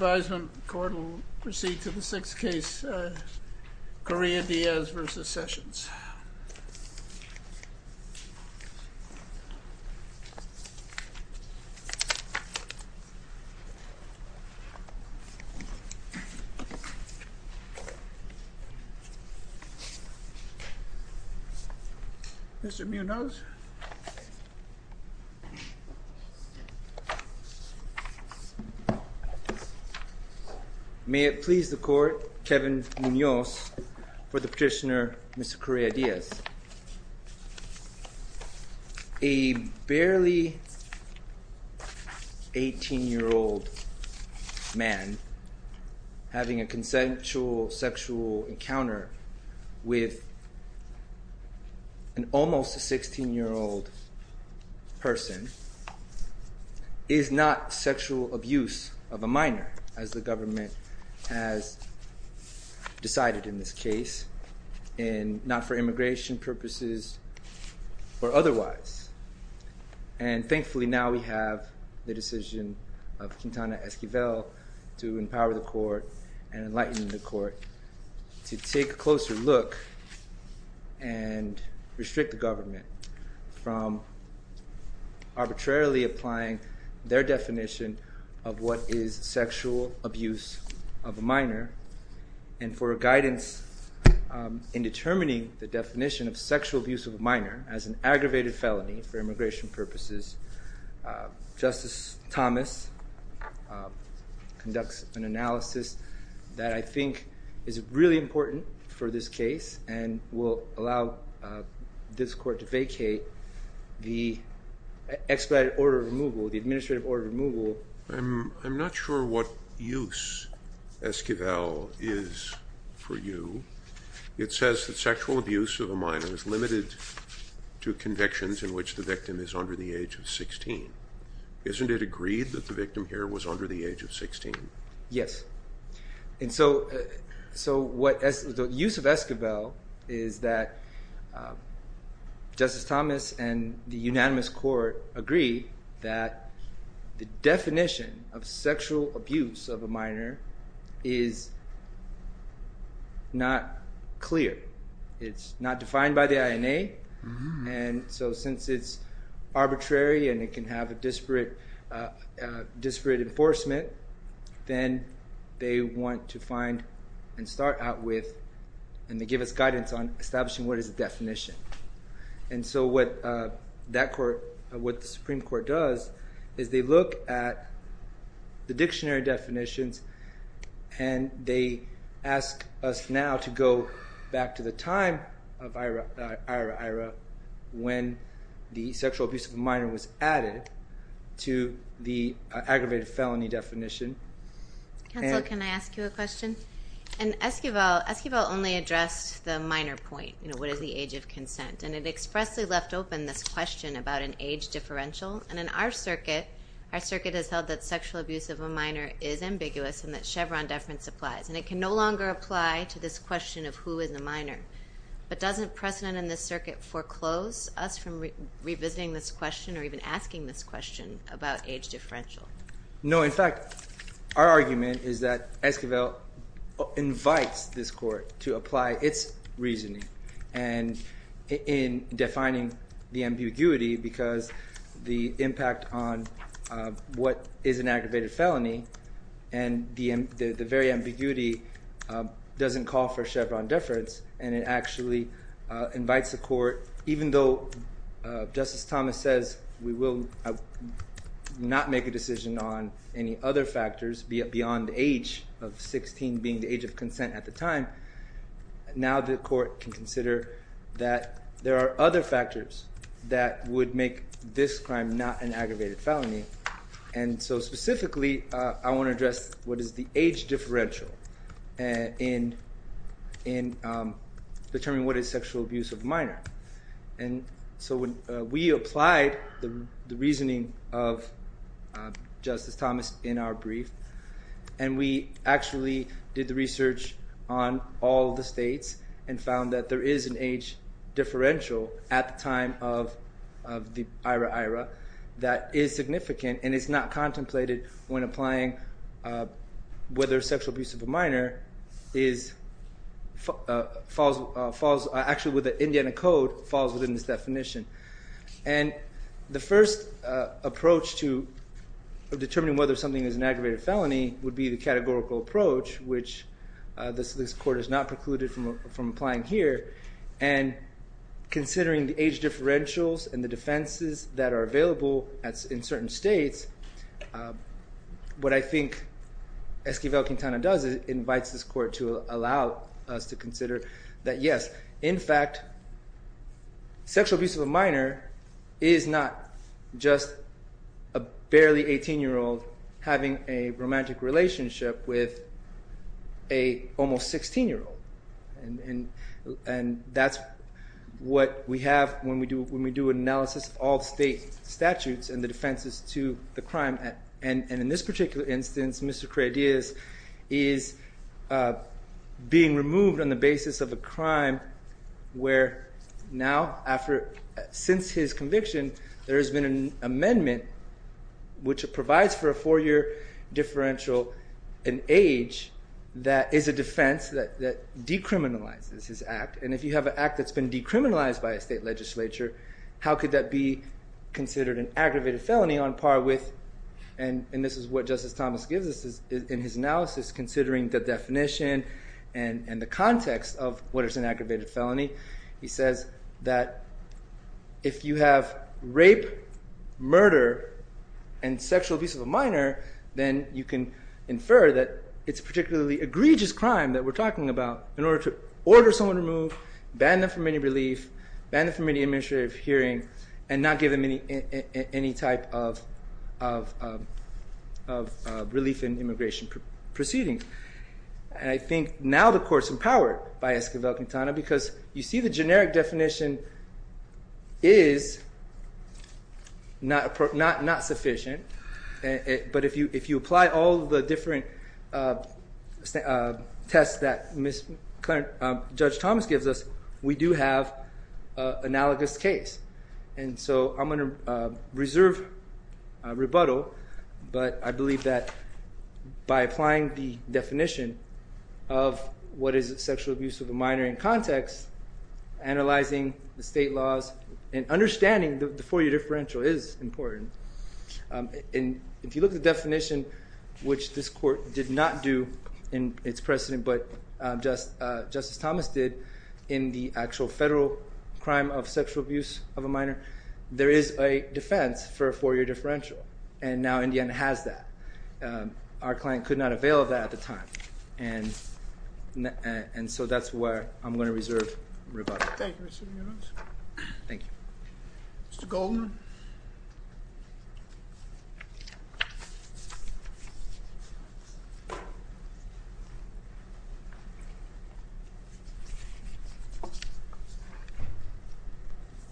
Advisement Court will proceed to the 6th case, Correa-Diaz v. Sessions. Mr. Munoz. May it please the court, Kevin Munoz for the petitioner, Mr. Correa-Diaz. A barely 18-year-old man having a consensual sexual encounter with an almost 16-year-old person is not sexual abuse of a minor, as the government has decided in this case. And not for immigration purposes or otherwise. And thankfully now we have the decision of Quintana Esquivel to empower the court and enlighten the court to take a closer look and restrict the government from arbitrarily applying their definition of what is sexual abuse of a minor. And for guidance in determining the definition of sexual abuse of a minor as an aggravated felony for immigration purposes, Justice Thomas conducts an analysis that I think is really important for this case and will allow this court to vacate the expedited order of removal, the administrative order of removal. I'm not sure what use Esquivel is for you. It says that sexual abuse of a minor is limited to convictions in which the victim is under the age of 16. Isn't it agreed that the victim here was under the age of 16? Yes. And so the use of Esquivel is that Justice Thomas and the unanimous court agree that the definition of sexual abuse of a minor is not clear. It's not defined by the INA. And so since it's arbitrary and it can have a disparate enforcement, then they want to find and start out with, and they give us guidance on establishing what is the definition. And so what the Supreme Court does is they look at the dictionary definitions and they ask us now to go back to the time of Ira when the sexual abuse of a minor was added to the aggravated felony definition. Counsel, can I ask you a question? Esquivel only addressed the minor point, what is the age of consent, and it expressly left open this question about an age differential. And in our circuit, our circuit has held that sexual abuse of a minor is ambiguous and that Chevron deference applies. And it can no longer apply to this question of who is a minor. But doesn't precedent in this circuit foreclose us from revisiting this question or even asking this question about age differential? No, in fact, our argument is that Esquivel invites this court to apply its reasoning and in defining the ambiguity because the impact on what is an aggravated felony and the very ambiguity doesn't call for Chevron deference. And it actually invites the court, even though Justice Thomas says we will not make a decision on any other factors beyond the age of 16 being the age of consent at the time, now the court can consider that there are other factors that would make this crime not an aggravated felony. And so specifically, I want to address what is the age differential in determining what is sexual abuse of a minor. And so when we applied the reasoning of Justice Thomas in our brief, and we actually did the research on all the states and found that there is an age differential at the time of the IRA-IRA that is significant and is not contemplated when applying whether sexual abuse of a minor is – And the first approach to determining whether something is an aggravated felony would be the categorical approach, which this court has not precluded from applying here. And considering the age differentials and the defenses that are available in certain states, what I think Esquivel-Quintana does is it invites this court to allow us to consider that yes, in fact, sexual abuse of a minor is not just a barely 18-year-old having a romantic relationship with an almost 16-year-old. And that's what we have when we do an analysis of all state statutes and the defenses to the crime. And in this particular instance, Mr. Creideas is being removed on the basis of a crime where now after – since his conviction, there has been an amendment which provides for a four-year differential in age that is a defense that decriminalizes his act. And if you have an act that's been decriminalized by a state legislature, how could that be considered an aggravated felony on par with – and this is what Justice Thomas gives us in his analysis considering the definition and the context of what is an aggravated felony. He says that if you have rape, murder, and sexual abuse of a minor, then you can infer that it's a particularly egregious crime that we're talking about in order to order someone removed, ban them from any relief, ban them from any administrative hearing, and not give them any type of relief in immigration proceeding. And I think now the court's empowered by Esquivel-Quintana because you see the generic definition is not sufficient, but if you apply all the different tests that Judge Thomas gives us, we do have an analogous case. And so I'm going to reserve rebuttal, but I believe that by applying the definition of what is sexual abuse of a minor in context, analyzing the state laws and understanding the four-year differential is important. And if you look at the definition, which this court did not do in its precedent, but Justice Thomas did in the actual federal crime of sexual abuse of a minor, there is a defense for a four-year differential. And now Indiana has that. Our client could not avail of that at the time. And so that's where I'm going to reserve rebuttal. Thank you, Mr. Munoz. Thank you. Mr. Goldman.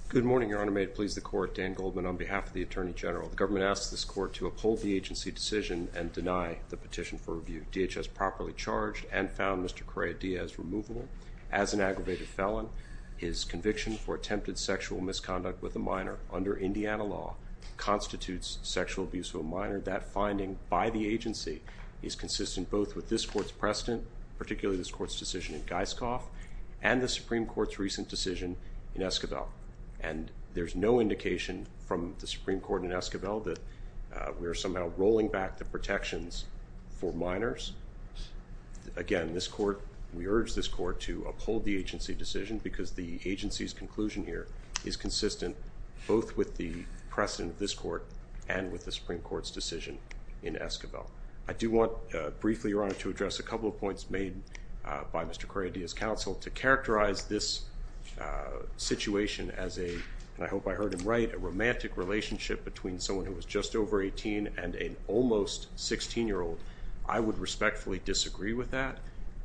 Good morning, Your Honor. May it please the court, Dan Goldman on behalf of the Attorney General. The government asks this court to uphold the agency decision and deny the petition for review. DHS properly charged and found Mr. Correa Diaz removable as an aggravated felon. His conviction for attempted sexual misconduct with a minor under Indiana law constitutes sexual abuse of a minor. That finding by the agency is consistent both with this court's precedent, particularly this court's decision in Geiskov, and the Supreme Court's recent decision in Esquivel. And there's no indication from the Supreme Court in Esquivel that we are somehow rolling back the protections for minors. Again, this court, we urge this court to uphold the agency decision because the agency's conclusion here is consistent both with the precedent of this court and with the Supreme Court's decision in Esquivel. I do want briefly, Your Honor, to address a couple of points made by Mr. Correa Diaz's counsel to characterize this situation as a, and I hope I heard him right, a romantic relationship between someone who was just over 18 and an almost 16-year-old. I would respectfully disagree with that.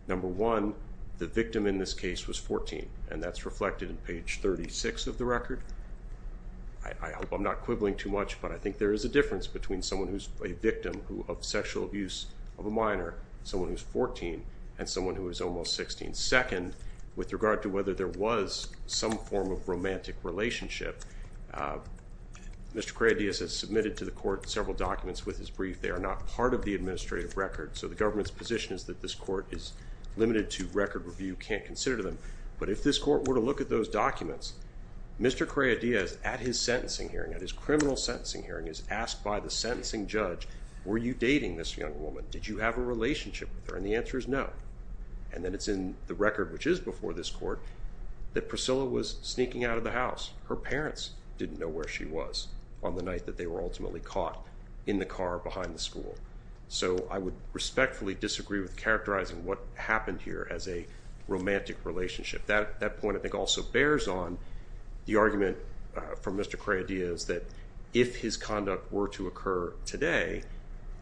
Number one, the victim in this case was 14, and that's reflected in page 36 of the record. I hope I'm not quibbling too much, but I think there is a difference between someone who's a victim of sexual abuse of a minor, someone who's 14, and someone who is almost 16. Second, with regard to whether there was some form of romantic relationship, Mr. Correa Diaz has submitted to the court several documents with his brief. They are not part of the administrative record, so the government's position is that this court is limited to record review, can't consider them. But if this court were to look at those documents, Mr. Correa Diaz, at his sentencing hearing, at his criminal sentencing hearing, is asked by the sentencing judge, were you dating this young woman? Did you have a relationship with her? And the answer is no. And then it's in the record, which is before this court, that Priscilla was sneaking out of the house. Her parents didn't know where she was on the night that they were ultimately caught in the car behind the school. So I would respectfully disagree with characterizing what happened here as a romantic relationship. That point, I think, also bears on the argument from Mr. Correa Diaz that if his conduct were to occur today,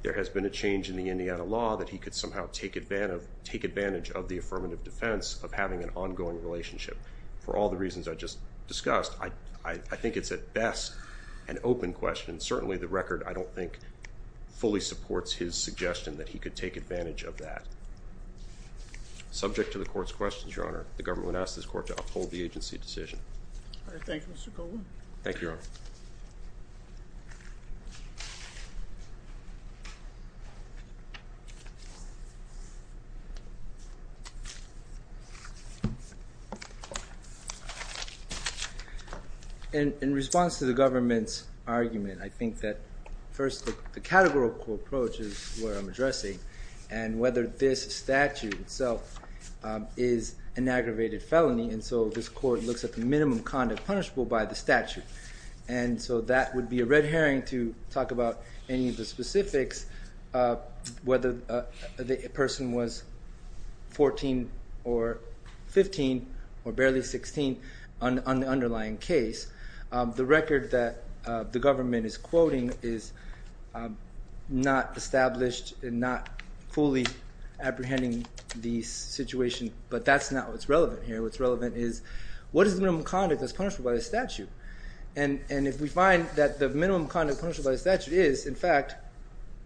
there has been a change in the Indiana law that he could somehow take advantage of the affirmative defense of having an ongoing relationship. For all the reasons I just discussed, I think it's at best an open question. Certainly the record, I don't think, fully supports his suggestion that he could take advantage of that. Subject to the court's questions, Your Honor, the government would ask this court to uphold the agency decision. All right. Thank you, Mr. Coleman. Thank you, Your Honor. In response to the government's argument, I think that first the categorical approach is what I'm addressing, and whether this statute itself is an aggravated felony. And so this court looks at the minimum conduct punishable by the statute. And so that would be a red herring to talk about any of the specifics, whether the person was 14 or 15 or barely 16 on the underlying case. The record that the government is quoting is not established and not fully apprehending the situation, but that's not what's relevant here. What's relevant is what is the minimum conduct that's punishable by the statute? And if we find that the minimum conduct punishable by the statute is, in fact,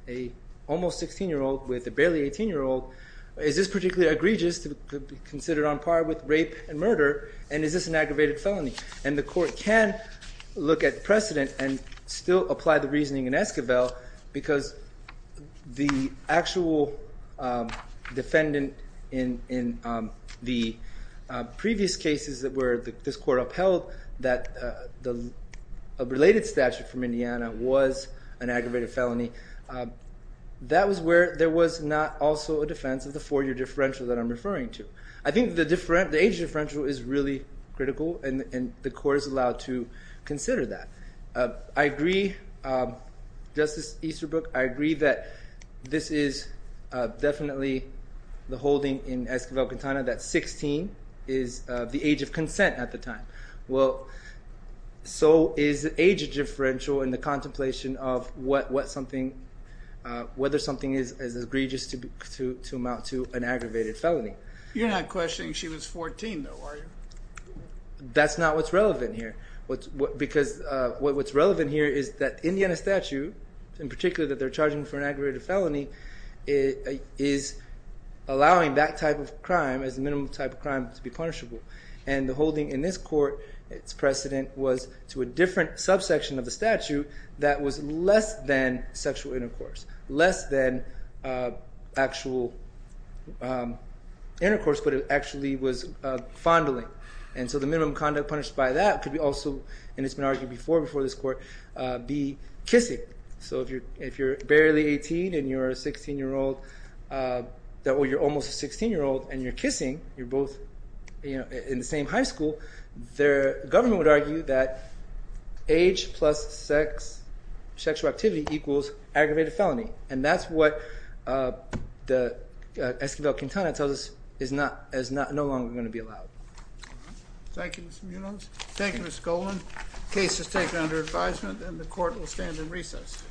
an almost 16-year-old with a barely 18-year-old, is this particularly egregious to be considered on par with rape and murder, and is this an aggravated felony? And the court can look at precedent and still apply the reasoning in Esquivel because the actual defendant in the previous cases that were – this court upheld that a related statute from Indiana was an aggravated felony. That was where there was not also a defense of the four-year differential that I'm referring to. I think the age differential is really critical, and the court is allowed to consider that. I agree – Justice Easterbrook, I agree that this is definitely the holding in Esquivel-Quintana that 16 is the age of consent at the time. Well, so is the age differential in the contemplation of what something – whether something is egregious to amount to an aggravated felony. You're not questioning she was 14, though, are you? That's not what's relevant here because what's relevant here is that Indiana statute, in particular that they're charging for an aggravated felony, is allowing that type of crime as the minimum type of crime to be punishable. And the holding in this court, its precedent was to a different subsection of the statute that was less than sexual intercourse, less than actual intercourse, but it actually was fondling. And so the minimum conduct punished by that could be also – and it's been argued before, before this court – be kissing. So if you're barely 18 and you're a 16-year-old – or you're almost a 16-year-old and you're kissing, you're both in the same high school, the government would argue that age plus sexual activity equals aggravated felony. And that's what the Esquivel-Quintana tells us is no longer going to be allowed. Thank you, Mr. Munoz. Thank you, Ms. Goldman. The case is taken under advisement and the court will stand in recess. Thank you.